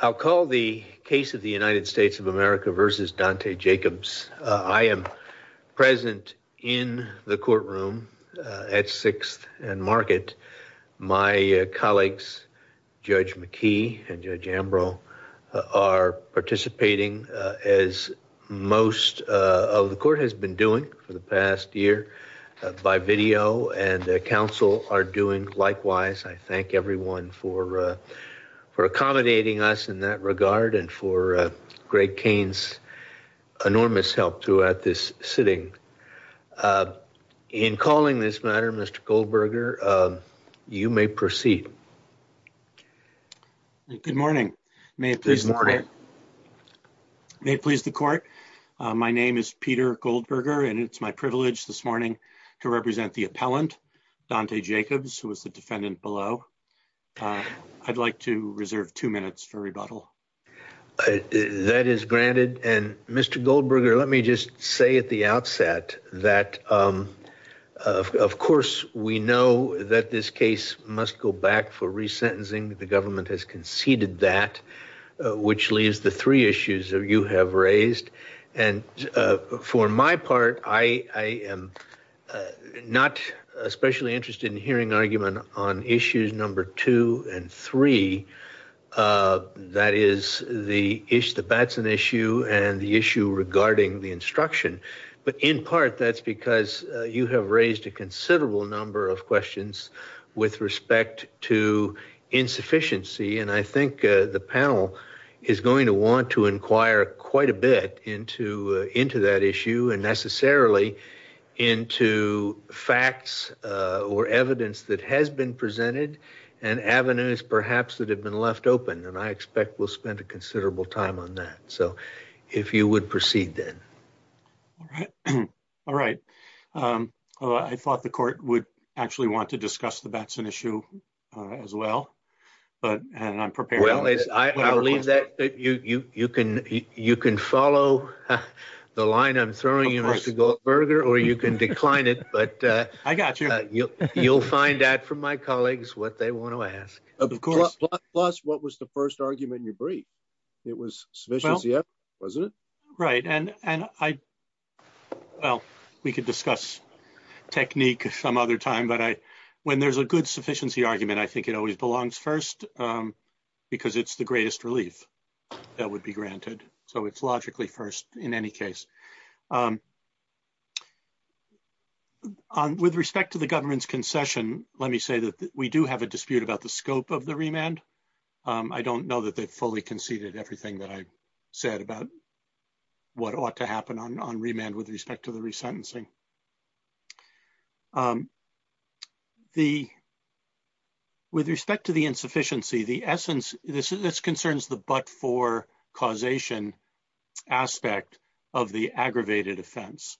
I'll call the case of the United States of America v. Dante Jacobs. I am present in the courtroom at 6th and Market. My colleagues, Judge McKee and Judge Ambrose, are participating as most of the court has been doing for the past year by video, and counsel are doing likewise. I thank everyone for accommodating us in that regard and for Greg Kane's enormous help throughout this sitting. In calling this matter, Mr. Goldberger, you may proceed. Good morning. May it please the court. My name is Peter Goldberger, and it's my privilege this morning to represent the appellant, Dante Jacobs, who was the defendant below. I'd like to reserve two minutes for rebuttal. That is granted. And, Mr. Goldberger, let me just say at the outset that, of course, we know that this case must go back for resentencing. The government has conceded that, which leaves the three issues you have raised. And for my part, I am not especially interested in hearing argument on issues number two and three. That is the issue, the Batson issue and the issue regarding the instruction. But in part, that's because you have raised a considerable number of questions with respect to insufficiency. And I think the panel is going to want to inquire quite a bit into into that issue and necessarily into facts or evidence that has been presented and avenues perhaps that have been left open. And I expect we'll spend a considerable time on that. So if you would proceed, then. All right. I thought the court would actually want to discuss the Batson issue as well. And I'm prepared. Well, I believe that you can you can follow the line I'm throwing you, Mr. Goldberger, or you can decline it. But I got you. You'll find out from my colleagues what they want to ask. Of course. Plus, what was the first argument you briefed? It was sufficient. Yep. Was it right? And I. Well, we could discuss technique some other time, but I when there's a good sufficiency argument, I think it always belongs first because it's the greatest relief that would be granted. So it's logically first in any case. On with respect to the government's concession. Let me say that we do have a dispute about the scope of the remand. I don't know that they've fully conceded everything that I said about what ought to happen on remand with respect to the resentencing. The. With respect to the insufficiency, the essence. This is this concerns the but for causation aspect of the aggravated offense.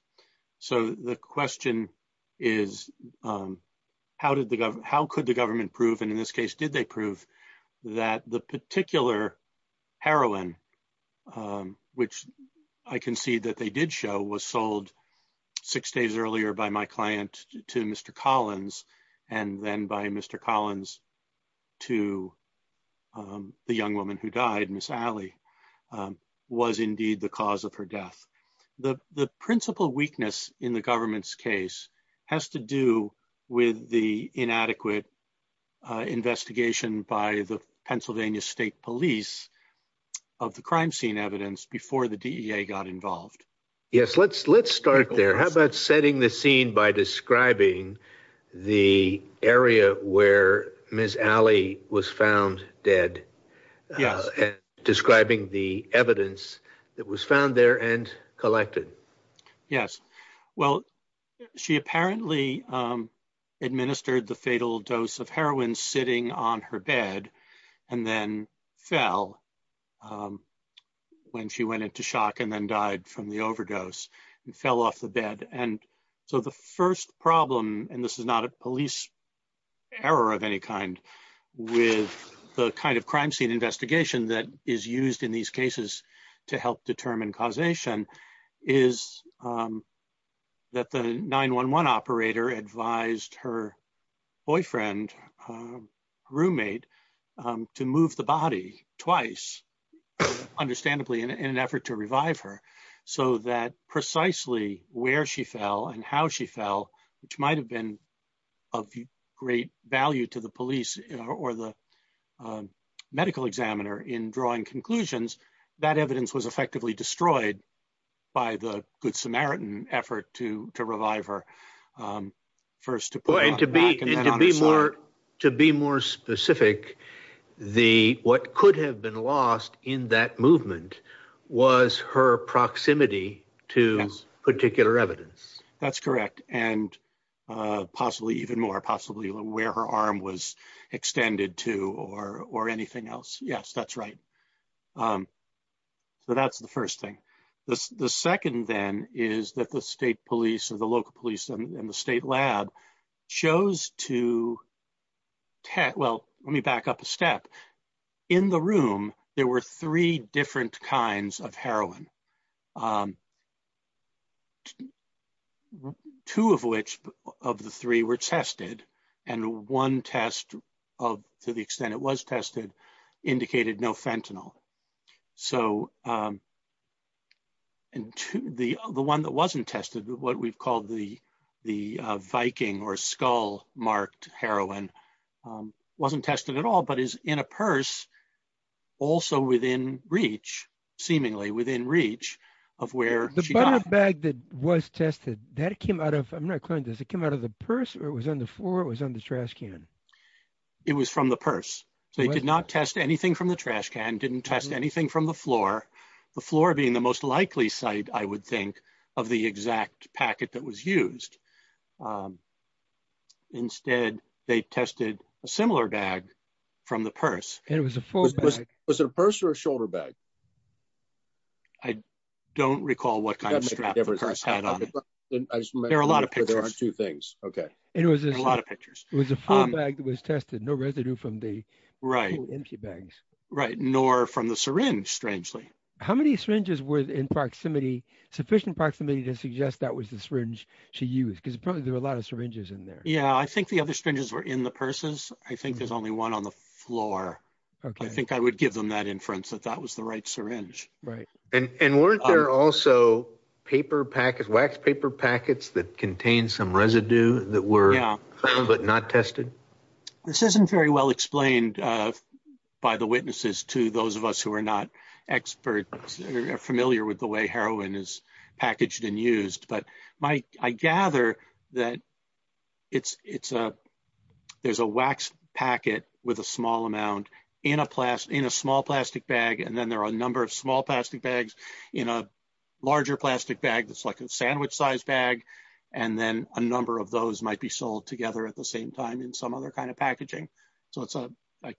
So the question is, how did the how could the government prove and in this case, did they prove that the particular heroin, which I can see that they did show was sold six days earlier by my client to Mr. And then by Mr. Collins to the young woman who died Miss Allie was indeed the cause of her death. The the principal weakness in the government's case has to do with the inadequate investigation by the Pennsylvania State Police of the crime scene evidence before the DEA got involved. Yes, let's let's start there. How about setting the scene by describing the area where Miss Allie was found dead? Yes. Describing the evidence that was found there and collected. Yes. Well, she apparently administered the fatal dose of heroin sitting on her bed and then fell. When she went into shock and then died from the overdose and fell off the bed. And so the first problem and this is not a police error of any kind with the kind of crime scene investigation that is used in these cases to help determine causation is. That the 911 operator advised her boyfriend roommate to move the body twice, understandably in an effort to revive her so that precisely where she fell and how she fell, which might have been of great value to the police or the medical examiner in drawing conclusions. That evidence was effectively destroyed by the Good Samaritan effort to to revive her first to be able to be more to be more specific, the what could have been lost in that movement was her proximity to particular evidence. That's correct. And possibly even more possibly where her arm was extended to or or anything else. Yes, that's right. So that's the first thing. The second, then, is that the state police or the local police and the state lab shows to. Well, let me back up a step in the room. There were three different kinds of heroin. Two of which of the three were tested and one test of to the extent it was tested indicated no fentanyl. So, and the other one that wasn't tested what we've called the, the Viking or skull marked heroin wasn't tested at all but is in a purse. Also within reach, seemingly within reach of where the bag that was tested that came out of. I'm not clear. Does it come out of the purse or it was on the floor was on the trash can. It was from the purse. They did not test anything from the trash can didn't test anything from the floor, the floor being the most likely site, I would think of the exact packet that was used. Instead, they tested a similar bag from the purse, and it was a full was a purse or shoulder bag. I don't recall what kind of There are a lot of two things. Okay. It was a lot of pictures. It was a full bag that was tested no residue from the right into bags. Right. Nor from the syringe strangely. How many syringes were in proximity sufficient proximity to suggest that was the syringe. She used because probably there were a lot of syringes in there. Yeah, I think the other strangers were in the purses. I think there's only one on the floor. I think I would give them that inference that that was the right syringe. Right. And weren't there also paper packet wax paper packets that contain some residue that were but not tested. This isn't very well explained by the witnesses to those of us who are not experts are familiar with the way heroin is packaged and used, but my I gather that It's, it's a, there's a wax packet with a small amount in a class in a small plastic bag and then there are a number of small plastic bags in a larger plastic bag that's like a sandwich size bag. And then a number of those might be sold together at the same time in some other kind of packaging. So it's a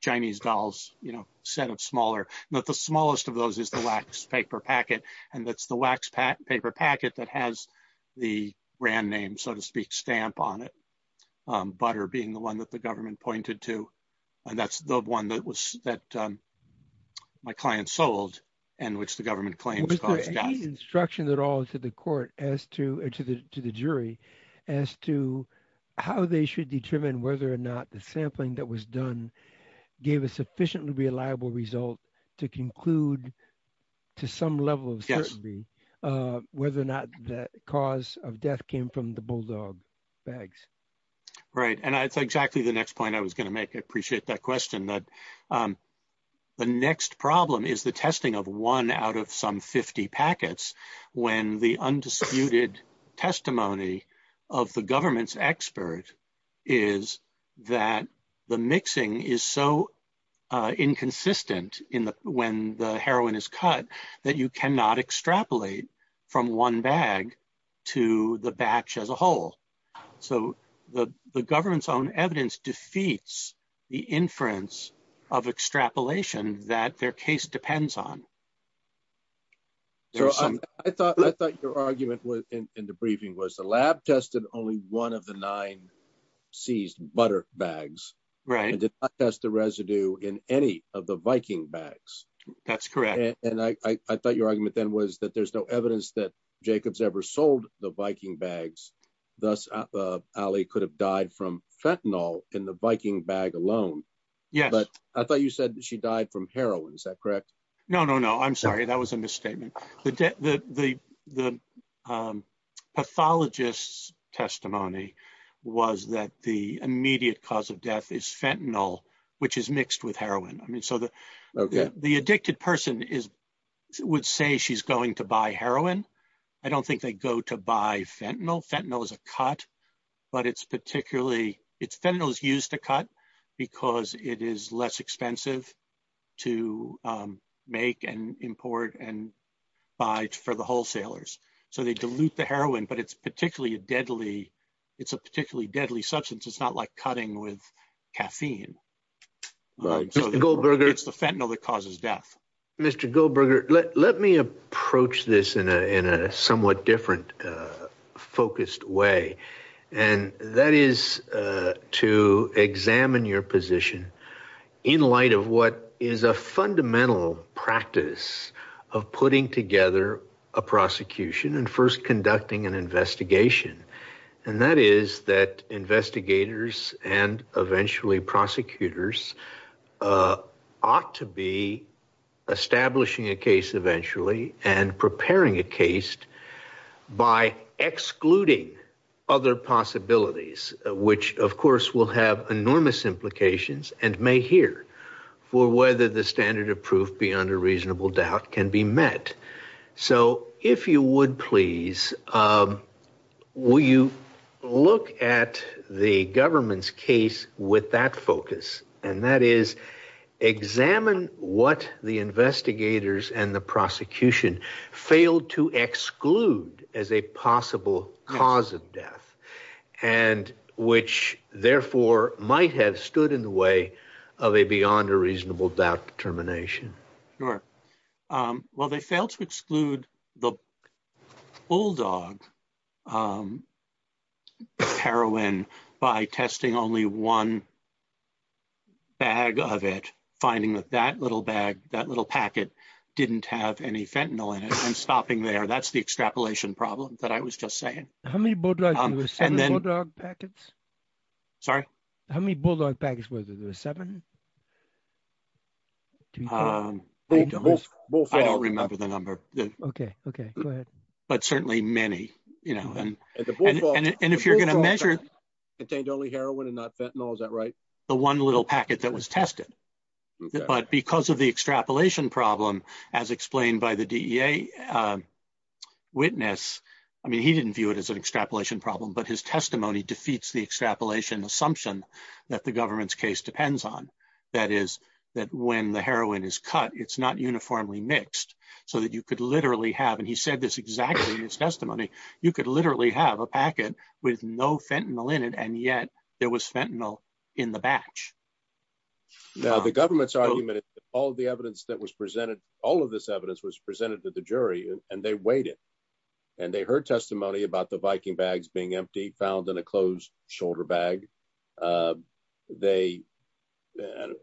Chinese dolls, you know, set of smaller, not the smallest of those is the wax paper packet. And that's the wax paper packet that has the brand name so to speak stamp on it. And that's the one that was that my client sold and which the government claims instruction that all to the court as to to the to the jury as to how they should determine whether or not the sampling that was done gave a sufficiently reliable result to conclude to some level of Whether or not that cause of death came from the bulldog bags. Right. And that's exactly the next point I was going to make. I appreciate that question that the next problem is the testing of one out of some 50 packets when the undisputed testimony of the government's expert is that the mixing is so inconsistent in the when the heroin is cut that you cannot extrapolate from one bag to the batch as a whole. So, the, the government's own evidence defeats the inference of extrapolation that their case depends on. So I thought I thought your argument was in the briefing was the lab tested only one of the nine seized butter bags, right, that's the residue in any of the Viking bags. That's correct. And I thought your argument then was that there's no evidence that Jacobs ever sold the Viking bags. Thus, Ali could have died from fentanyl in the Viking bag alone. Yeah, but I thought you said that she died from heroin. Is that correct. No, no, no, I'm sorry. That was a misstatement. The, the, the, the pathologists testimony was that the immediate cause of death is fentanyl, which is mixed with heroin. I mean, so the, the addicted person is would say she's going to buy heroin. I don't think they go to buy fentanyl fentanyl is a cut, but it's particularly it's fentanyl is used to cut, because it is less expensive to make and import and buy for the wholesalers, so they dilute the heroin but it's particularly deadly. It's a particularly deadly substance. It's not like cutting with caffeine. Right. It's the fentanyl that causes death. Mr. Goldberger, let, let me approach this in a, in a somewhat different focused way. And that is to examine your position in light of what is a fundamental practice of putting together a prosecution and first conducting an investigation. And that is that investigators and eventually prosecutors ought to be establishing a case eventually and preparing a case by excluding other possibilities, which of course will have enormous implications and may hear for whether the standard of proof beyond a reasonable doubt can be met. So, if you would please, will you look at the government's case with that focus, and that is examine what the investigators and the prosecution failed to exclude as a possible cause of death, and which therefore might have stood in the way of a beyond a reasonable doubt determination. Sure. Well, they failed to exclude the bulldog heroin by testing only one bag of it, finding that that little bag, that little packet didn't have any fentanyl in it and stopping there that's the extrapolation problem that I was just saying. And then packets. Sorry. How many bulldog packs was it a seven. I don't remember the number. Okay, okay. But certainly many, you know, and, and if you're going to measure contained only heroin and not fentanyl is that right. The one little packet that was tested. But because of the extrapolation problem, as explained by the DEA witness. I mean he didn't view it as an extrapolation problem but his testimony defeats the extrapolation assumption that the government's case depends on that is that when the heroin is cut, it's not uniformly mixed, so that you could literally have and he said this exactly this testimony, you could literally have a packet with no fentanyl in it and yet there was fentanyl in the batch. Now the government's argument, all the evidence that was presented all of this evidence was presented to the jury, and they waited. And they heard testimony about the Viking bags being empty found in a closed shoulder bag. They.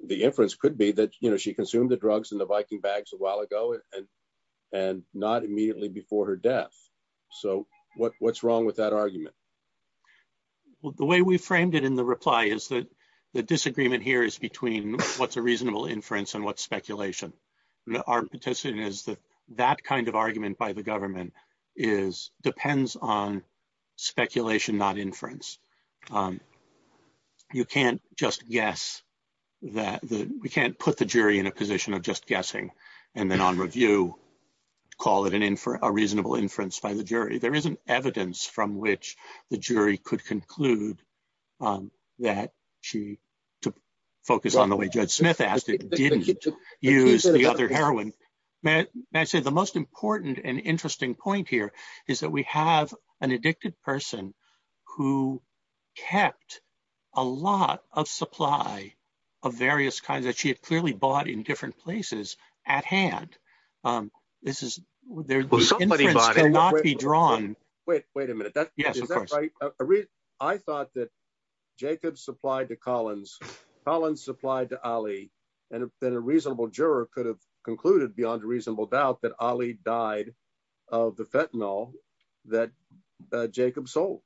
The inference could be that you know she consumed the drugs and the Viking bags a while ago, and, and not immediately before her death. So, what, what's wrong with that argument. The way we framed it in the reply is that the disagreement here is between what's a reasonable inference and what speculation. Our petition is that that kind of argument by the government is depends on speculation not inference. You can't just guess that we can't put the jury in a position of just guessing. And then on review, call it an infer a reasonable inference by the jury there isn't evidence from which the jury could conclude that she to focus on the way Judd Smith asked it didn't use the other heroin. I say the most important and interesting point here is that we have an addicted person who kept a lot of supply of various kinds that she had clearly bought in different places at hand. This is, this is not be drawn. Wait, wait a minute. I thought that Jacob supplied to Collins Collins supplied to Ali, and then a reasonable juror could have concluded beyond reasonable doubt that Ali died of the fentanyl that Jacob soul.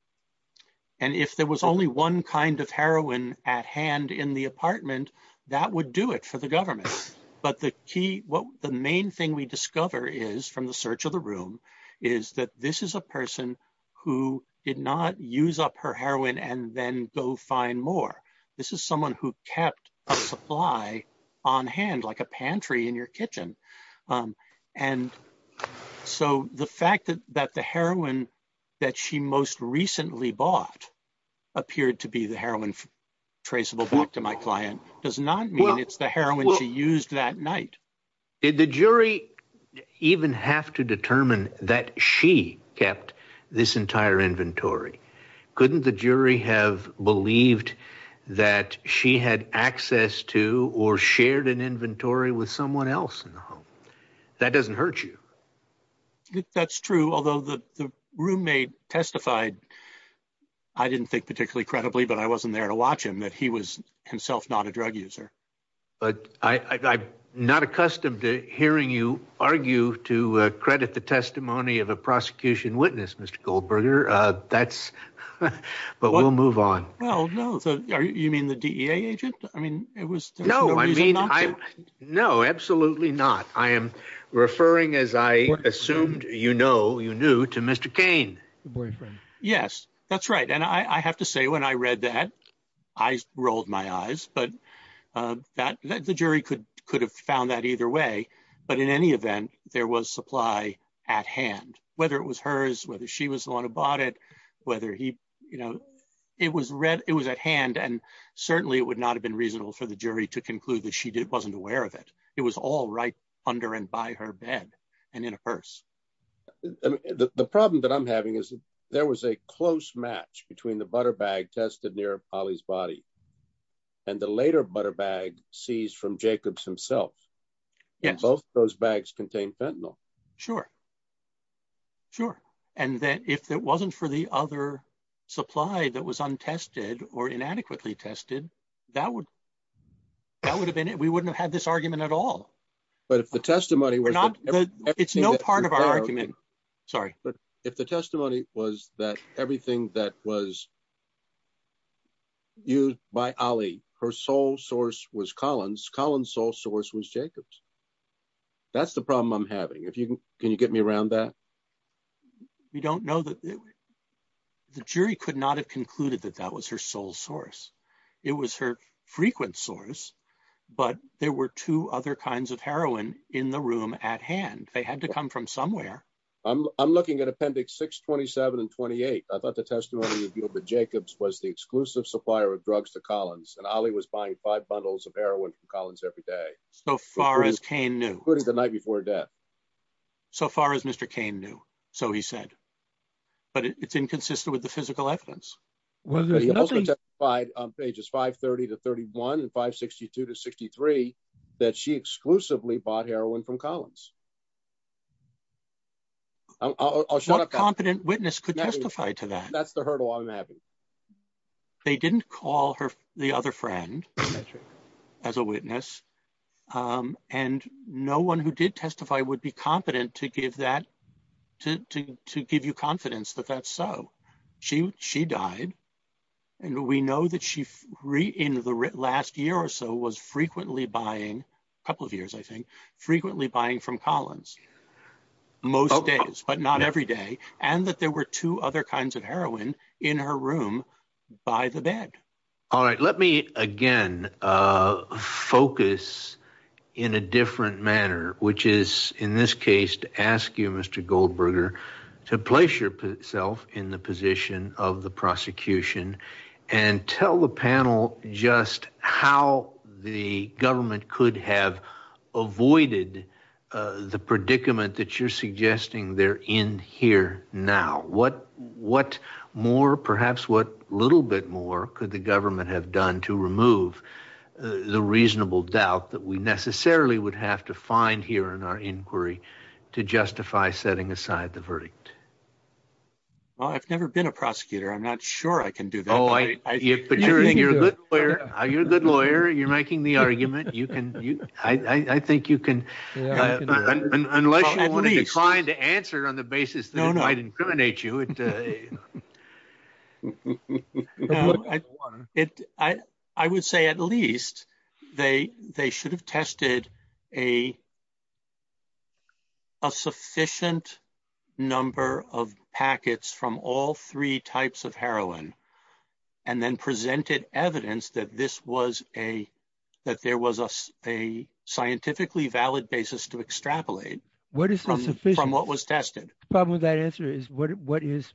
And if there was only one kind of heroin at hand in the apartment, that would do it for the government. But the key, what the main thing we discover is from the search of the room is that this is a person who did not use up her heroin and then go find more. This is someone who kept supply on hand like a pantry in your kitchen. And so the fact that that the heroin that she most recently bought appeared to be the heroin traceable back to my client does not mean it's the heroin she used that night. Did the jury even have to determine that she kept this entire inventory? Couldn't the jury have believed that she had access to or shared an inventory with someone else in the home? That doesn't hurt you. That's true. Although the roommate testified, I didn't think particularly credibly, but I wasn't there to watch him that he was himself not a drug user. But I'm not accustomed to hearing you argue to credit the testimony of a prosecution witness, Mr. Goldberger. That's but we'll move on. Well, no. So you mean the D.A. agent? I mean, it was no, I mean, no, absolutely not. I am referring, as I assumed, you know, you knew to Mr. Cain boyfriend. Yes, that's right. And I have to say, when I read that, I rolled my eyes, but that the jury could could have found that either way. But in any event, there was supply at hand, whether it was hers, whether she was the one who bought it, whether he you know, it was it was at hand. And certainly it would not have been reasonable for the jury to conclude that she wasn't aware of it. It was all right under and by her bed and in a purse. The problem that I'm having is there was a close match between the butter bag tested near Ali's body. And the later butter bag seized from Jacobs himself. Yes. Both those bags contain fentanyl. Sure. Sure. And that if it wasn't for the other supply that was untested or inadequately tested, that would. That would have been it we wouldn't have had this argument at all. But if the testimony we're not. It's no part of our argument. Sorry, but if the testimony was that everything that was used by Ali her sole source was Collins Collins sole source was Jacobs. That's the problem I'm having if you can you get me around that. We don't know that the jury could not have concluded that that was her sole source. It was her frequent source, but there were two other kinds of heroin in the room at hand. They had to come from somewhere. I'm looking at appendix 627 and 28. I thought the testimony of Jacob's was the exclusive supplier of drugs to Collins and Ali was buying five bundles of heroin from Collins every day. So far as Cain knew the night before death. So far as Mr. Cain knew. So he said. But it's inconsistent with the physical evidence. By pages 532 31 and 562 to 63 that she exclusively bought heroin from Collins. Competent witness could testify to that that's the hurdle I'm having. They didn't call her the other friend. As a witness, and no one who did testify would be competent to give that to give you confidence that that's so she she died. And we know that she free in the last year or so was frequently buying a couple of years I think frequently buying from Collins. Most days, but not every day, and that there were two other kinds of heroin in her room by the bed. All right, let me again focus in a different manner, which is in this case to ask you, Mr. Goldberger, to place yourself in the position of the prosecution. And tell the panel just how the government could have avoided the predicament that you're suggesting there in here. Now, what what more perhaps what little bit more could the government have done to remove the reasonable doubt that we necessarily would have to find here in our inquiry to justify setting aside the verdict? Well, I've never been a prosecutor. I'm not sure I can do that. Oh, I think you're a good lawyer. You're a good lawyer. You're making the argument. You can. I think you can. Unless you want to decline to answer on the basis that I'd incriminate you. I would say at least they they should have tested a sufficient number of packets from all three types of heroin and then presented evidence that this was a that there was a scientifically valid basis to extrapolate. From what was tested. The problem with that answer is what is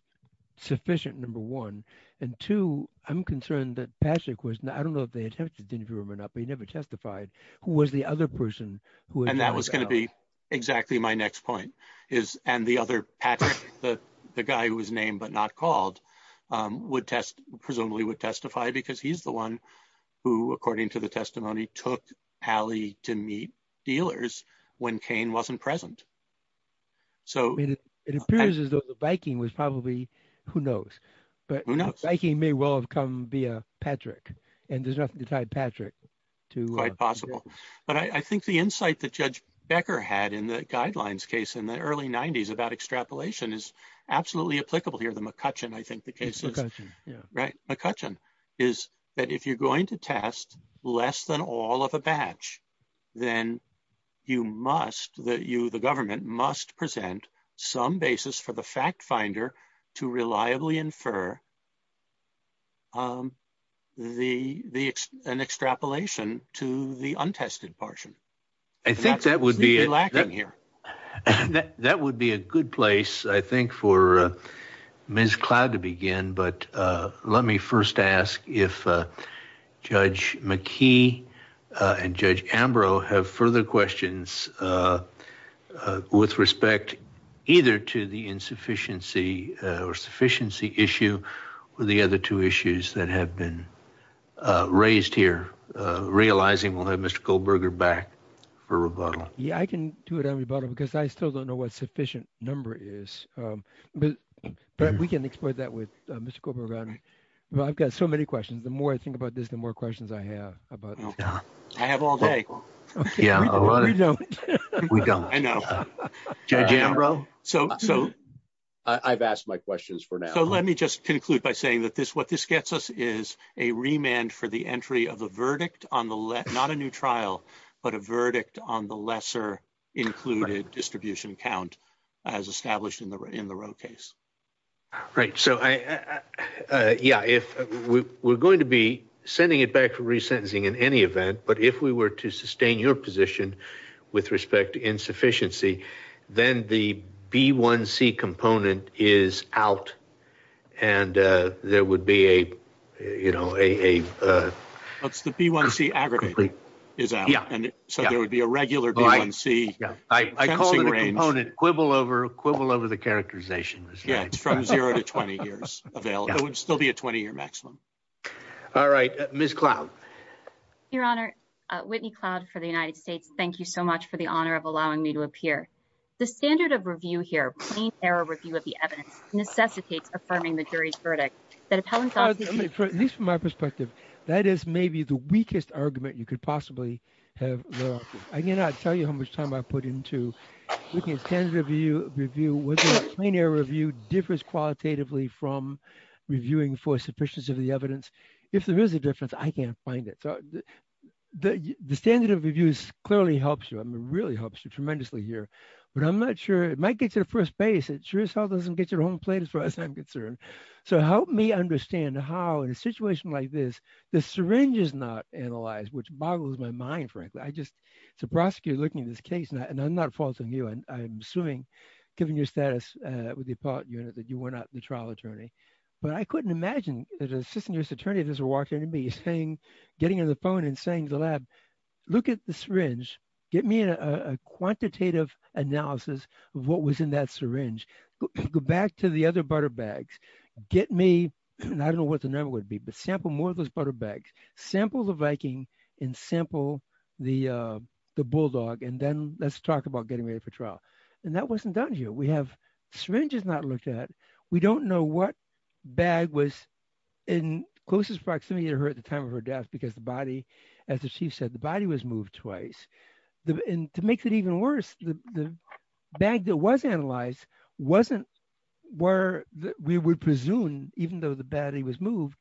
sufficient, number one. And two, I'm concerned that Patrick was, I don't know if they attempted to interview him or not, but he never testified. Who was the other person? And that was going to be exactly my next point is and the other, the guy who was named but not called would test presumably would testify because he's the one who, according to the testimony, took Allie to meet dealers when Cain wasn't present. So, it appears as though the Viking was probably, who knows, but I can may well have come be a Patrick, and there's nothing to tie Patrick to quite possible, but I think the insight that Judge Becker had in the guidelines case in the early 90s about extrapolation is absolutely applicable here. Right. McCutcheon is that if you're going to test less than all of a batch, then you must that you, the government must present some basis for the fact finder to reliably infer the, the, an extrapolation to the untested portion. I think that would be lacking here. That would be a good place, I think, for Ms. Cloud to begin, but let me first ask if Judge McKee and Judge Ambrose have further questions with respect either to the insufficiency or sufficiency issue or the other two issues that have been raised here, realizing we'll have Mr. Goldberger back for rebuttal. Yeah, I can do it on rebuttal because I still don't know what sufficient number is, but we can explore that with Mr. Goldberger. I've got so many questions. The more I think about this, the more questions I have. I have all day. Yeah. I know. Judge Ambrose. I've asked my questions for now. So let me just conclude by saying that what this gets us is a remand for the entry of a verdict on the, not a new trial, but a verdict on the lesser included distribution count as established in the Roe case. Right. So, yeah, if we're going to be sending it back for resentencing in any event, but if we were to sustain your position with respect to insufficiency, then the B1C component is out. And there would be a, you know, a. That's the B1C aggregate is out. So there would be a regular B1C. Yeah, I call it a component quibble over quibble over the characterization. Yeah, it's from zero to 20 years available. It would still be a 20 year maximum. All right, Miss Cloud. Your Honor, Whitney Cloud for the United States. Thank you so much for the honor of allowing me to appear. The standard of review here, clean air review of the evidence necessitates affirming the jury's verdict. At least from my perspective, that is maybe the weakest argument you could possibly have. I cannot tell you how much time I put into looking at standard of review, whether a clean air review differs qualitatively from reviewing for sufficiency of the evidence. If there is a difference, I can't find it. The standard of reviews clearly helps you. It really helps you tremendously here, but I'm not sure it might get to the first base. It sure as hell doesn't get to the home plate as far as I'm concerned. So help me understand how, in a situation like this, the syringe is not analyzed, which boggles my mind, frankly. I just, as a prosecutor looking at this case, and I'm not faulting you. I'm assuming, given your status with the appellate unit, that you were not the trial attorney. But I couldn't imagine that an assistant juror's attorney just walked in to me, getting on the phone and saying to the lab, look at the syringe. Get me a quantitative analysis of what was in that syringe. Go back to the other butter bags. Get me, I don't know what the number would be, but sample more of those butter bags. Sample the Viking and sample the Bulldog, and then let's talk about getting ready for trial. And that wasn't done here. We have syringes not looked at. We don't know what bag was in closest proximity to her at the time of her death because the body, as the chief said, the body was moved twice. And to make it even worse, the bag that was analyzed wasn't where we would presume, even though the body was moved,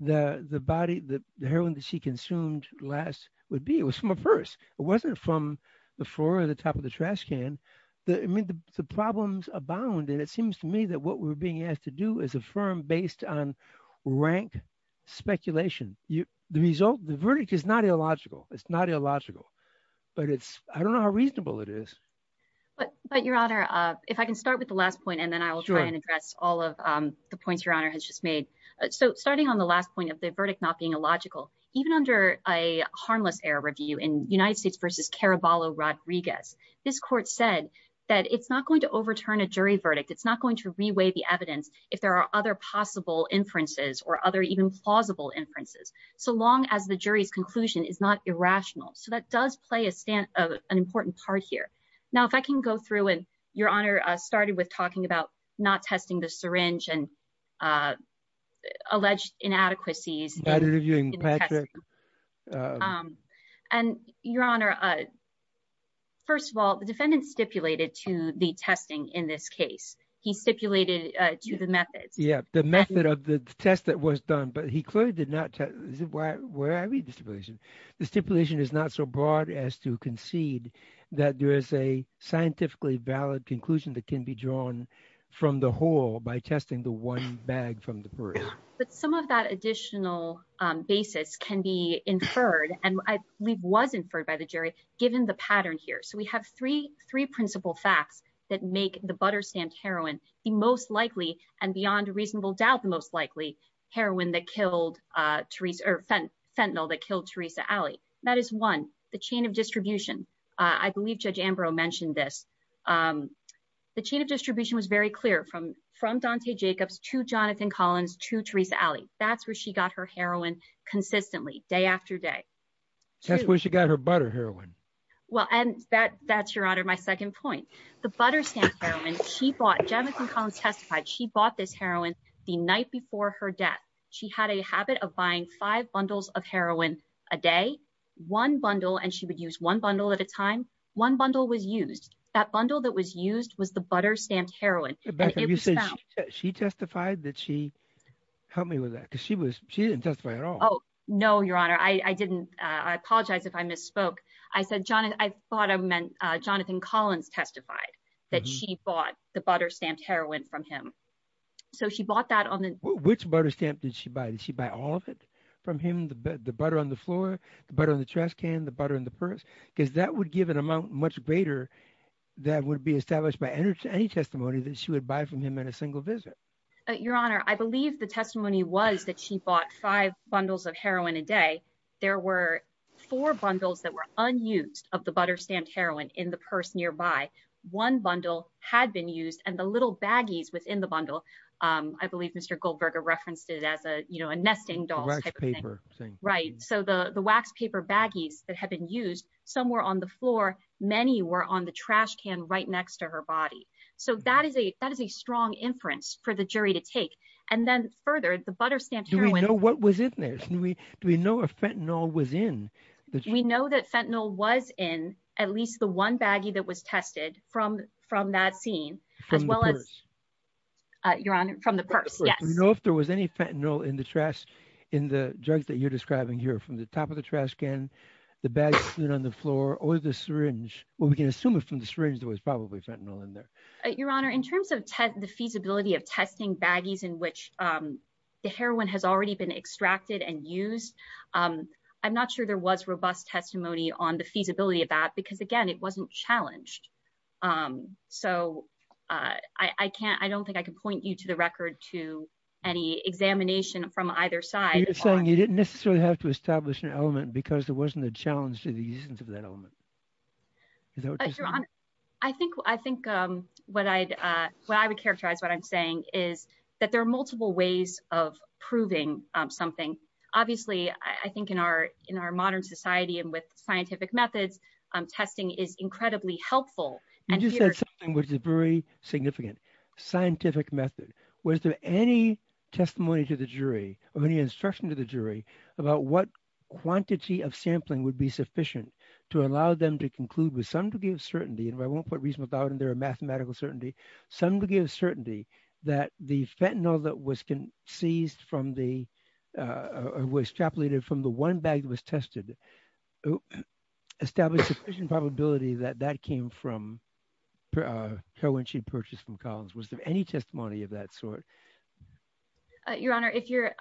the body, the heroin that she consumed last would be. It was from a purse. It wasn't from the floor or the top of the trash can. I mean, the problems abound, and it seems to me that what we're being asked to do is affirm based on rank speculation. The verdict is not illogical. It's not illogical, but it's I don't know how reasonable it is. But your honor, if I can start with the last point and then I will try and address all of the points your honor has just made. So starting on the last point of the verdict not being illogical, even under a harmless air review in United States versus Caraballo Rodriguez, this court said that it's not going to overturn a jury verdict. It's not going to reweigh the evidence if there are other possible inferences or other even plausible inferences. So long as the jury's conclusion is not irrational. So that does play a stand of an important part here. Now, if I can go through and your honor started with talking about not testing the syringe and alleged inadequacies. And your honor. First of all, the defendant stipulated to the testing in this case, he stipulated to the methods. Yeah, the method of the test that was done, but he clearly did not. Why would I read the stipulation? The stipulation is not so broad as to concede that there is a scientifically valid conclusion that can be drawn from the whole by testing the one bag from the. But some of that additional basis can be inferred, and I believe was inferred by the jury, given the pattern here so we have three, three principal facts that make the butter stamped heroin, the most likely and beyond reasonable doubt the most likely heroin that killed Teresa or fentanyl that killed Teresa alley. That is one, the chain of distribution. I believe Judge Ambrose mentioned this. The chain of distribution was very clear from from Dante Jacobs to Jonathan Collins to Teresa alley, that's where she got her heroin consistently day after day. That's where she got her butter heroin. Well, and that that's your honor my second point, the butter stamp. She bought Jonathan Collins testified she bought this heroin, the night before her death. She had a habit of buying five bundles of heroin, a day, one bundle and she would use one bundle at a time, one bundle was used that bundle that was used was the butter stamped heroin from him. So she bought that on the which butter stamp did she buy she buy all of it from him the butter on the floor, but on the trash can the butter in the purse, because that would give an amount much greater. That would be established by energy any testimony that she would buy from him in a single visit. Your Honor, I believe the testimony was that she bought five bundles of heroin a day. There were four bundles that were unused of the butter stamped heroin in the purse nearby one bundle had been used and the little baggies within the bundle. I believe Mr Goldberger referenced it as a, you know, a nesting doll paper thing right so the the wax paper baggies that have been used somewhere on the floor. Many were on the trash can right next to her body. So that is a, that is a strong inference for the jury to take. And then further the butter stamped you know what was it there's no we do we know a fentanyl was in that we know that fentanyl was in at least the one baggie that was tested from from that scene, as well as your honor from the purse. No, if there was any fentanyl in the trash in the drugs that you're describing here from the top of the trash can the bags on the floor or the syringe, or we can assume it from the syringe there was probably fentanyl in there. Your Honor in terms of the feasibility of testing baggies in which the heroin has already been extracted and use. I'm not sure there was robust testimony on the feasibility of that because again it wasn't challenged. So, I can't I don't think I can point you to the record to any examination from either side saying you didn't necessarily have to establish an element because there wasn't a challenge to the use of that element. I think I think what I, what I would characterize what I'm saying is that there are multiple ways of proving something. Obviously, I think in our, in our modern society and with scientific methods, testing is incredibly helpful. You just said something which is very significant scientific method. Was there any testimony to the jury, or any instruction to the jury about what quantity of sampling would be sufficient to allow them to conclude with some degree of certainty and I won't put mathematical certainty, some degree of certainty that the fentanyl that was seized from the was extrapolated from the one bag was tested established sufficient probability that that came from her when she purchased from Collins was there any testimony of that sort. Your Honor, if you're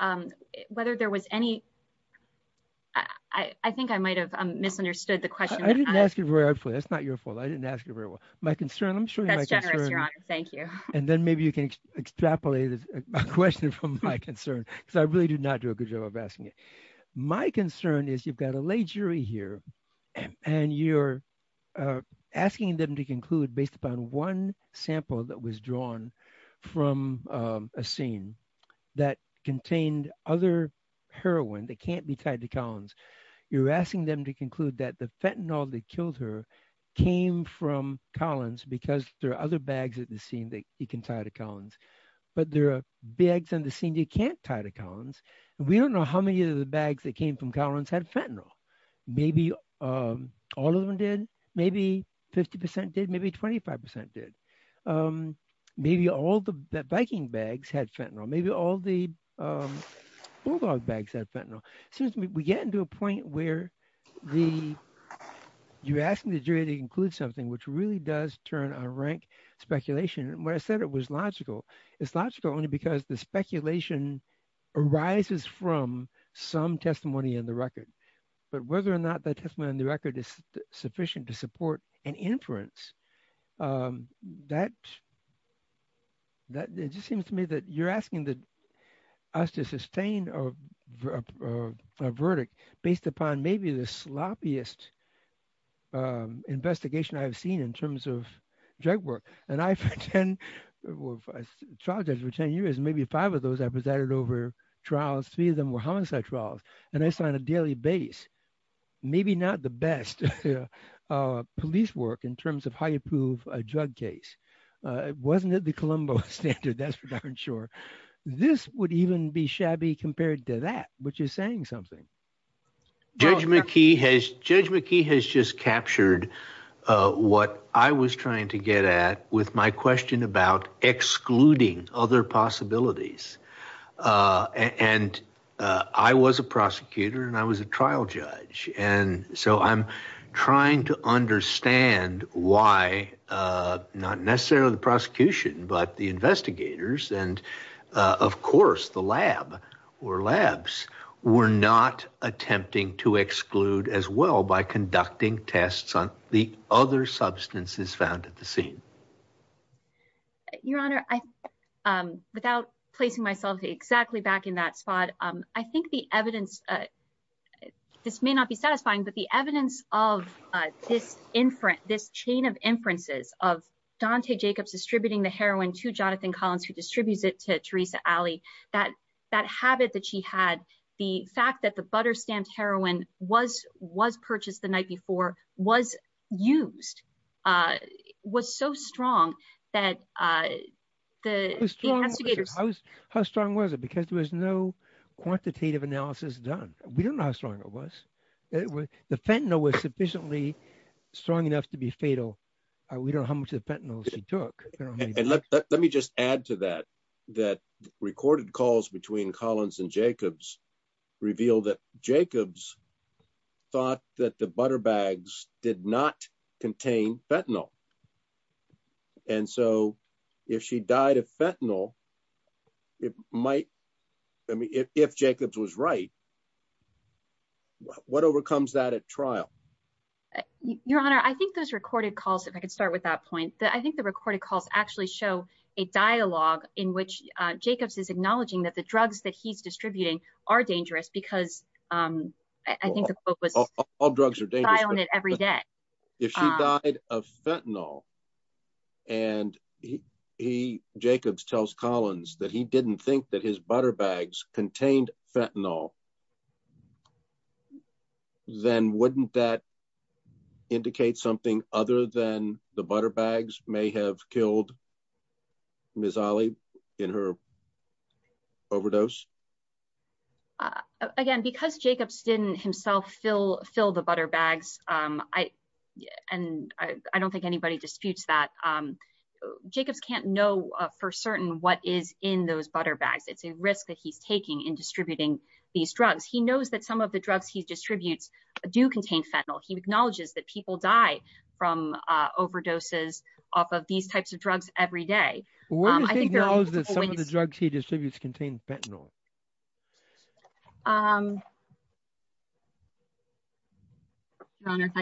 whether there was any. I think I might have misunderstood the question. That's not your fault I didn't ask you very well. My concern I'm sure. Thank you. And then maybe you can extrapolate a question from my concern, because I really do not do a good job of asking it. My concern is you've got a lay jury here, and you're asking them to conclude based upon one sample that was drawn from a scene that contained other heroin that can't be tied to Collins. We don't know how many of the bags that came from Collins had fentanyl. Maybe all of them did, maybe 50% did maybe 25% did. Maybe all the biking bags had fentanyl maybe all the Bulldog bags that fentanyl, since we get into a point where the you're asking the jury to include something which really does turn on rank speculation where I said it was logical, it's logical only because the speculation arises from some testimony in the record. But whether or not that testimony in the record is sufficient to support an inference, that just seems to me that you're asking us to sustain a verdict based upon maybe the sloppiest investigation I've seen in terms of drug work. And I for 10 years, maybe five of those I presented over trials, three of them were homicide trials, and I signed a daily base, maybe not the best police work in terms of how you prove a drug case. Wasn't it the Colombo standard that's for darn sure. This would even be shabby compared to that, which is saying something. Judge McKee has Judge McKee has just captured what I was trying to get at with my question about excluding other possibilities. And I was a prosecutor and I was a trial judge. And so I'm trying to understand why not necessarily the prosecution, but the investigators and, of course, the lab or labs were not attempting to exclude as well by conducting tests on the other substances found at the scene. Your Honor, I without placing myself exactly back in that spot, I think the evidence. This may not be satisfying, but the evidence of this in front this chain of inferences of Dante Jacobs distributing the heroin to Jonathan Collins, who distributes it to Teresa alley that that habit that she had the fact that the butter stamped heroin was was purchased the night before was used. Was so strong that the strong. How strong was it because there was no quantitative analysis done. We don't know how strong it was. The fentanyl was sufficiently strong enough to be fatal. We don't how much the fentanyl she took. Let me just add to that, that recorded calls between Collins and Jacobs reveal that Jacobs thought that the butter bags did not contain fentanyl. And so, if she died of fentanyl. It might be if Jacobs was right. What overcomes that at trial. Your Honor, I think those recorded calls if I could start with that point that I think the recorded calls actually show a dialogue in which Jacobs is acknowledging that the drugs that he's distributing are dangerous because I think all drugs are daily on it every day. If she died of fentanyl. And he Jacobs tells Collins that he didn't think that his butter bags contained fentanyl. Then wouldn't that indicate something other than the butter bags may have killed. Miss Ali in her. Overdose. Again, because Jacobs didn't himself fill fill the butter bags. And I don't think anybody disputes that Jacobs can't know for certain what is in those butter bags it's a risk that he's taking in distributing these drugs he knows that some of the drugs he distributes do contain fentanyl he acknowledges that people die from overdoses off of these types of drugs every day. Some of the drugs he distributes contain fentanyl. I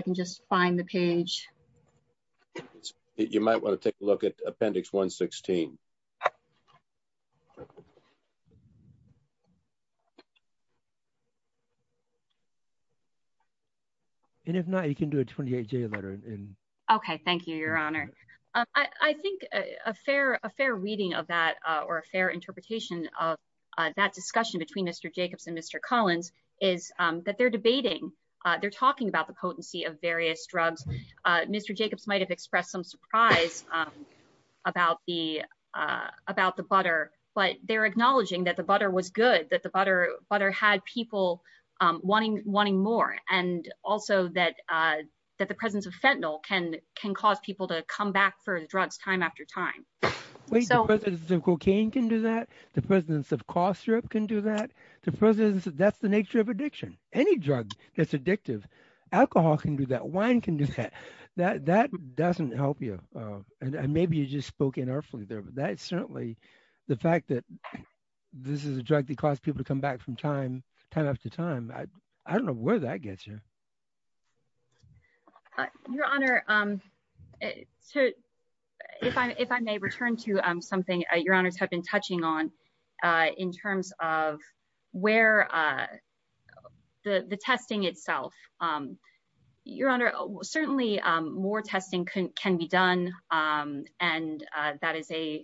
can just find the page. You might want to take a look at appendix 116. And if not, you can do a 28 day letter in. Okay, thank you, Your Honor. I think a fair a fair reading of that or a fair interpretation of that discussion between Mr Jacobs and Mr Collins is that they're debating. They're talking about the potency of various drugs. Mr Jacobs might have expressed some surprise about the about the butter, but they're acknowledging that the butter was good that the butter butter had people wanting wanting more and also that that the presence of fentanyl can can cause people to come back for the drugs time after time. The cocaine can do that. The presence of cough syrup can do that. The presence of that's the nature of addiction, any drug that's addictive alcohol can do that wine can do that, that that doesn't help you. And maybe you just spoken earfully there but that's certainly the fact that this is a drug that cause people to come back from time, time after time, I don't know where that gets you. Your Honor. So, if I if I may return to something your honors have been touching on in terms of where the the testing itself. Your Honor, certainly more testing can can be done. And that is a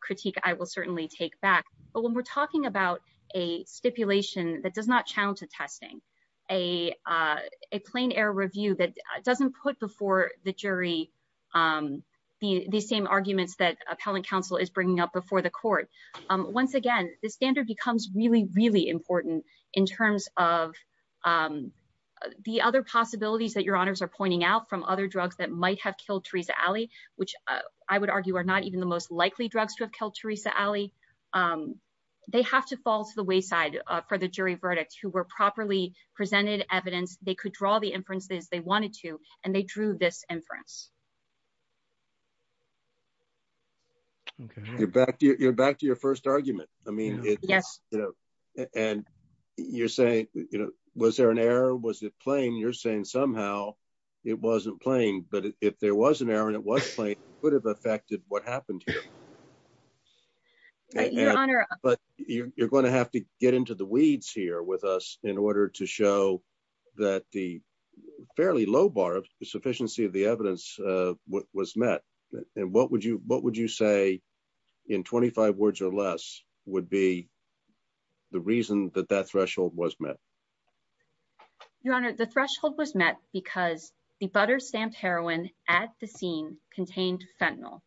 critique I will certainly take back, but when we're talking about a stipulation that does not challenge the testing, a, a plain air review that doesn't put before the jury. The, the same arguments that appellate counsel is bringing up before the court. Once again, the standard becomes really really important in terms of the other possibilities that your honors are pointing out from other drugs that might have killed Teresa Alley, which I would argue are not even the most likely drugs to have killed Teresa Alley. They have to fall to the wayside for the jury verdict who were properly presented evidence, they could draw the inferences they wanted to, and they drew this inference. You're back to your back to your first argument. I mean, yes, you know, and you're saying, you know, was there an error was it playing you're saying somehow. It wasn't playing, but if there was an error and it was playing would have affected what happened. But you're going to have to get into the weeds here with us in order to show that the fairly low bar of sufficiency of the evidence was met. And what would you what would you say in 25 words or less would be the reason that that threshold was met. Your Honor, the threshold was met, because the butter stamped heroin at the scene contained fentanyl.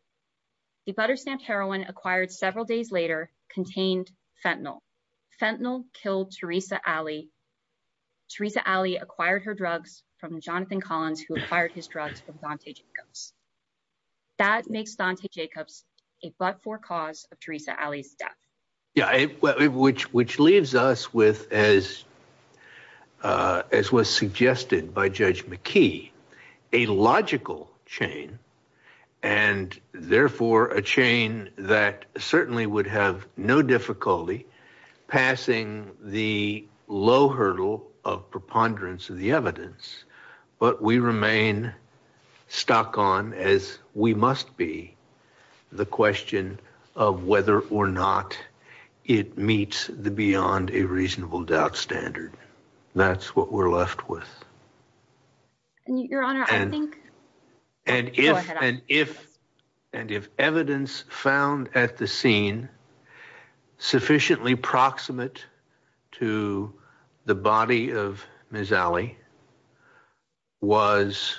The butter stamped heroin acquired several days later contained fentanyl. Fentanyl killed Teresa Alley. Teresa Alley acquired her drugs from Jonathan Collins who acquired his drugs from Dante Jacobs. That makes Dante Jacobs, a but for cause of Teresa Alley's death. Yeah, which which leaves us with as as was suggested by Judge McKee, a logical chain and therefore a chain that certainly would have no difficulty passing the low hurdle of preponderance of the evidence. But we remain stuck on as we must be the question of whether or not it meets the beyond a reasonable doubt standard. That's what we're left with. Your Honor, I think and if and if and if evidence found at the scene sufficiently proximate to the body of Ms. was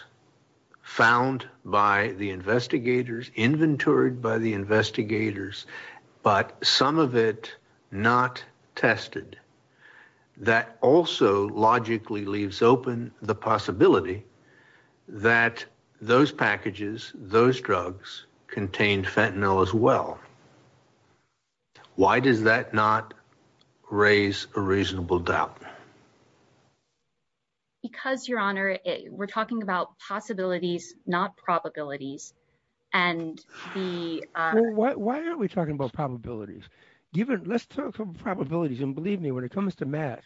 found by the investigators, inventoried by the investigators, but some of it not tested. That also logically leaves open the possibility that those packages, those drugs contained fentanyl as well. Why does that not raise a reasonable doubt? Because, Your Honor, we're talking about possibilities, not probabilities. And the. Why are we talking about probabilities? Given let's talk probabilities. And believe me, when it comes to math,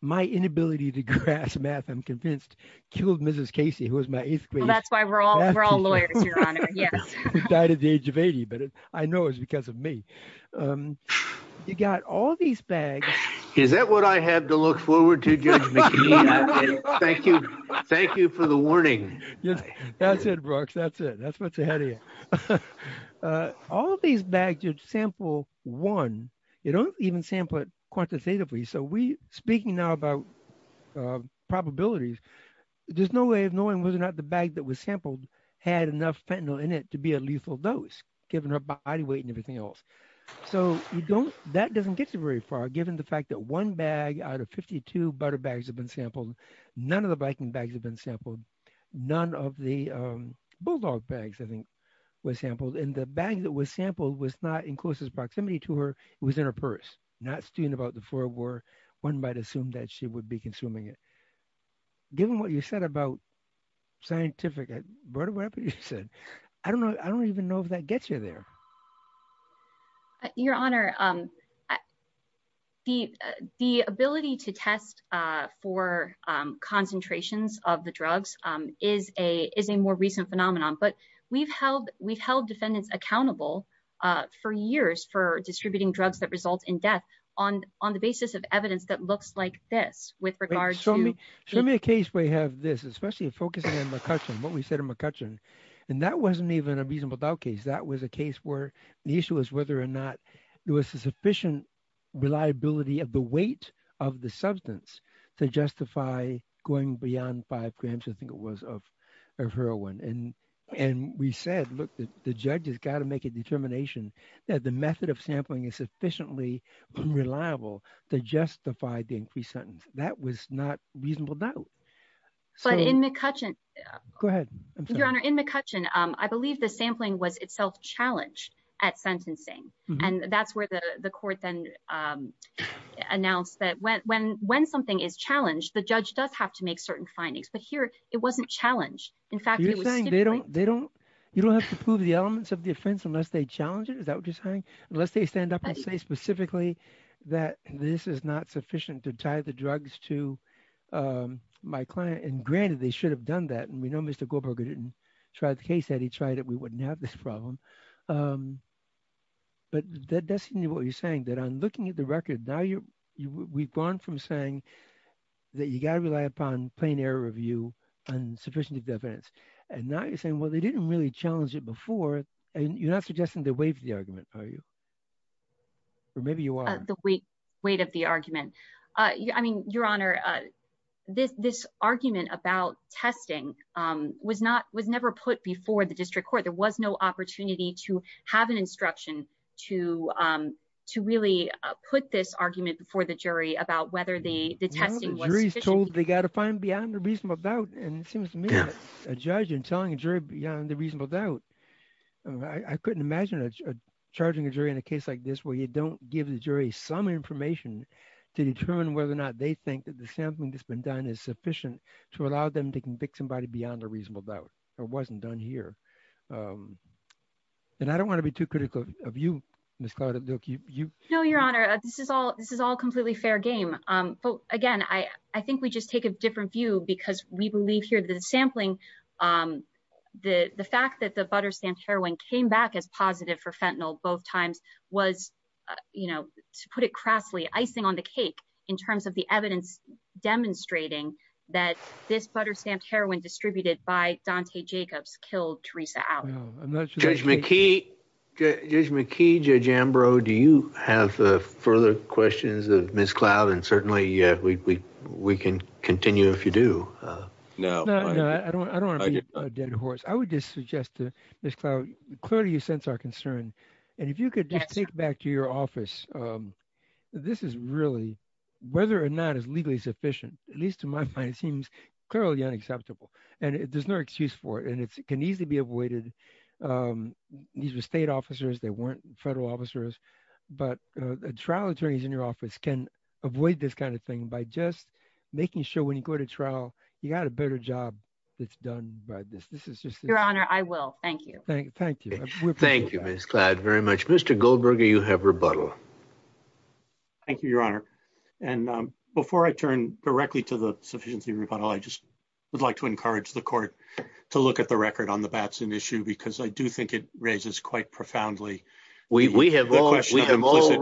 my inability to grasp math, I'm convinced killed Mrs. Casey, who was my eighth grade. That's why we're all we're all lawyers. Yes. Died at the age of 80. But I know it's because of me. You got all these bags. Is that what I have to look forward to? Thank you. Thank you for the warning. Yes. That's it, Brooks. That's it. That's what's ahead of you. All of these bags, you'd sample one. You don't even sample it quantitatively. So we speaking now about probabilities, there's no way of knowing whether or not the bag that was sampled had enough fentanyl in it to be a lethal dose given her body weight and everything else. So you don't that doesn't get you very far, given the fact that one bag out of 52 butter bags have been sampled. None of the biking bags have been sampled. None of the bulldog bags, I think, was sampled in the bag that was sampled was not in closest proximity to her. It was in her purse, not student about the four were one might assume that she would be consuming it. Given what you said about scientific, I brought it up. You said, I don't know. I don't even know if that gets you there. Your Honor. The, the ability to test for concentrations of the drugs is a is a more recent phenomenon but we've held we've held defendants accountable for years for distributing drugs that result in death on on the basis of evidence that looks like this with regards to me. Show me a case where you have this especially focusing on McCutcheon what we said in McCutcheon. And that wasn't even a reasonable doubt case that was a case where the issue is whether or not there was a sufficient reliability of the weight of the substance to justify going beyond five grams I think it was of her one and, and we said, look, the judges got to make a determination that the method of sampling is sufficiently reliable to justify the increased sentence. That was not reasonable. So in McCutcheon. Go ahead. Your Honor in McCutcheon, I believe the sampling was itself challenged at sentencing, and that's where the court then announced that when when when something is challenged the judge does have to make certain findings but here, it wasn't challenged. They don't, they don't, you don't have to prove the elements of defense unless they challenge it is that what you're saying, unless they stand up and say specifically that this is not sufficient to tie the drugs to my client and granted they should have done that and we know Mr. Goldberger didn't try the case that he tried it we wouldn't have this problem. But that doesn't mean what you're saying that I'm looking at the record now you we've gone from saying that you got to rely upon plane air review and sufficient evidence, and now you're saying well they didn't really challenge it before, and you're not suggesting the way for the argument, are you. Maybe you are the weight, weight of the argument. I mean, Your Honor. This this argument about testing was not was never put before the district court there was no opportunity to have an instruction to, to really put this argument before the jury about whether the testing was told they got to find beyond the reason about, and it seems to me, a judge and telling a jury beyond the reasonable doubt. I couldn't imagine a charging a jury in a case like this where you don't give the jury some information to determine whether or not they think that the sampling that's been done is sufficient to allow them to convict somebody beyond a reasonable doubt, or wasn't done here. And I don't want to be too critical of you, Mr. No, Your Honor, this is all this is all completely fair game. Again, I think we just take a different view because we believe here the sampling. The, the fact that the butter stamped heroin came back as positive for fentanyl both times was, you know, to put it crassly icing on the cake in terms of the evidence, demonstrating that this butter stamped heroin distributed by Dante Jacobs killed Teresa out. Judge McKee, Judge McKee, Judge Ambrose, do you have further questions of Miss cloud and certainly we can continue if you do know, I don't want to be a dead horse I would just suggest to this cloud, clearly you sense our concern. And if you could just take back to your office. This is really whether or not is legally sufficient, at least to my mind it seems clearly unacceptable, and it does not excuse for it and it can easily be avoided. These were state officers they weren't federal officers, but the trial attorneys in your office can avoid this kind of thing by just making sure when you go to trial, you got a better job. It's done by this this is just your honor I will thank you. Thank you. Thank you. Miss cloud very much Mr Goldberger you have rebuttal. Thank you, Your Honor. And before I turn directly to the sufficiency rebuttal I just would like to encourage the court to look at the record on the Batson issue because I do think it raises quite profoundly. We have all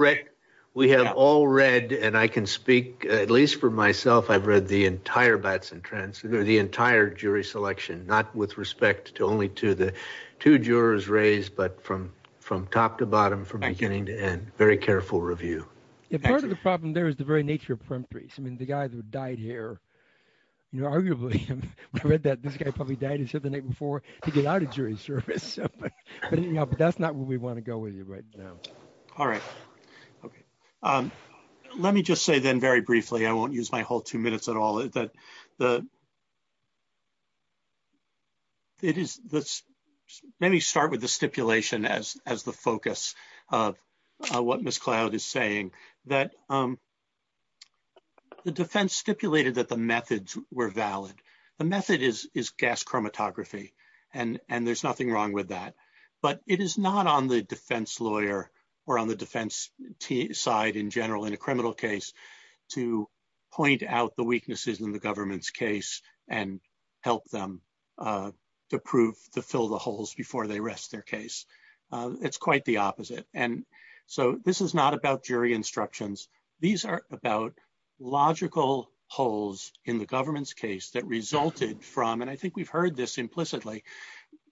read and I can speak, at least for myself I've read the entire Batson transfer the entire jury selection, not with respect to only to the two jurors raised but from, from top to bottom from beginning to end, very careful review. Part of the problem there is the very nature of primaries I mean the guy that died here. You know, arguably, I read that this guy probably died and said the night before, to get out of jury service, but that's not what we want to go with you right now. All right. Okay. Let me just say then very briefly I won't use my whole two minutes at all that the. It is this. Let me start with the stipulation as, as the focus of what Miss cloud is saying that the defense stipulated that the methods were valid. The method is is gas chromatography, and, and there's nothing wrong with that. But it is not on the defense lawyer, or on the defense side in general in a criminal case to point out the weaknesses in the government's case, and help them to prove to fill the holes before they rest their case. It's quite the opposite. And so this is not about jury instructions. These are about logical holes in the government's case that resulted from and I think we've heard this implicitly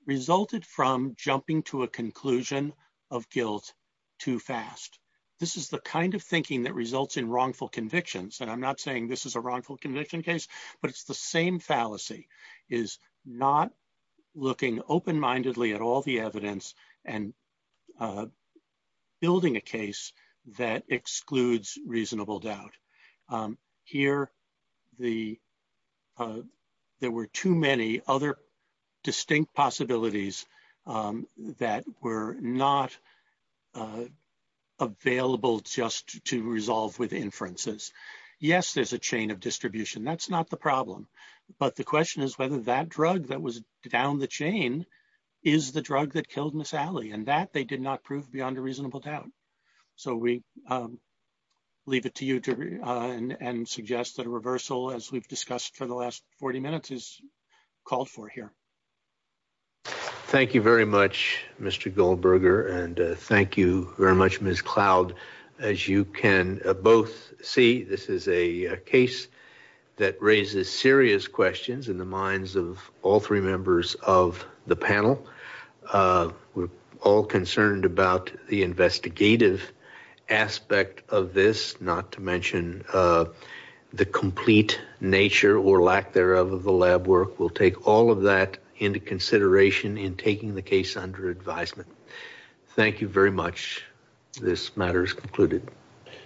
resulted from jumping to a conclusion of guilt too fast. This is the kind of thinking that results in wrongful convictions and I'm not saying this is a wrongful conviction case, but it's the same fallacy is not looking open mindedly at all the evidence and building a case that excludes reasonable doubt here. The. There were too many other distinct possibilities that were not available just to resolve with inferences. Yes, there's a chain of distribution that's not the problem. But the question is whether that drug that was down the chain is the drug that killed Miss Allie and that they did not prove beyond a reasonable doubt. So we leave it to you to and suggest that a reversal as we've discussed for the last 40 minutes is called for here. Thank you very much, Mr. Goldberger, and thank you very much, Miss Cloud. As you can both see, this is a case that raises serious questions in the minds of all three members of the panel. We're all concerned about the investigative aspect of this, not to mention the complete nature or lack thereof of the lab work. We'll take all of that into consideration in taking the case under advisement. Thank you very much. This matter is concluded.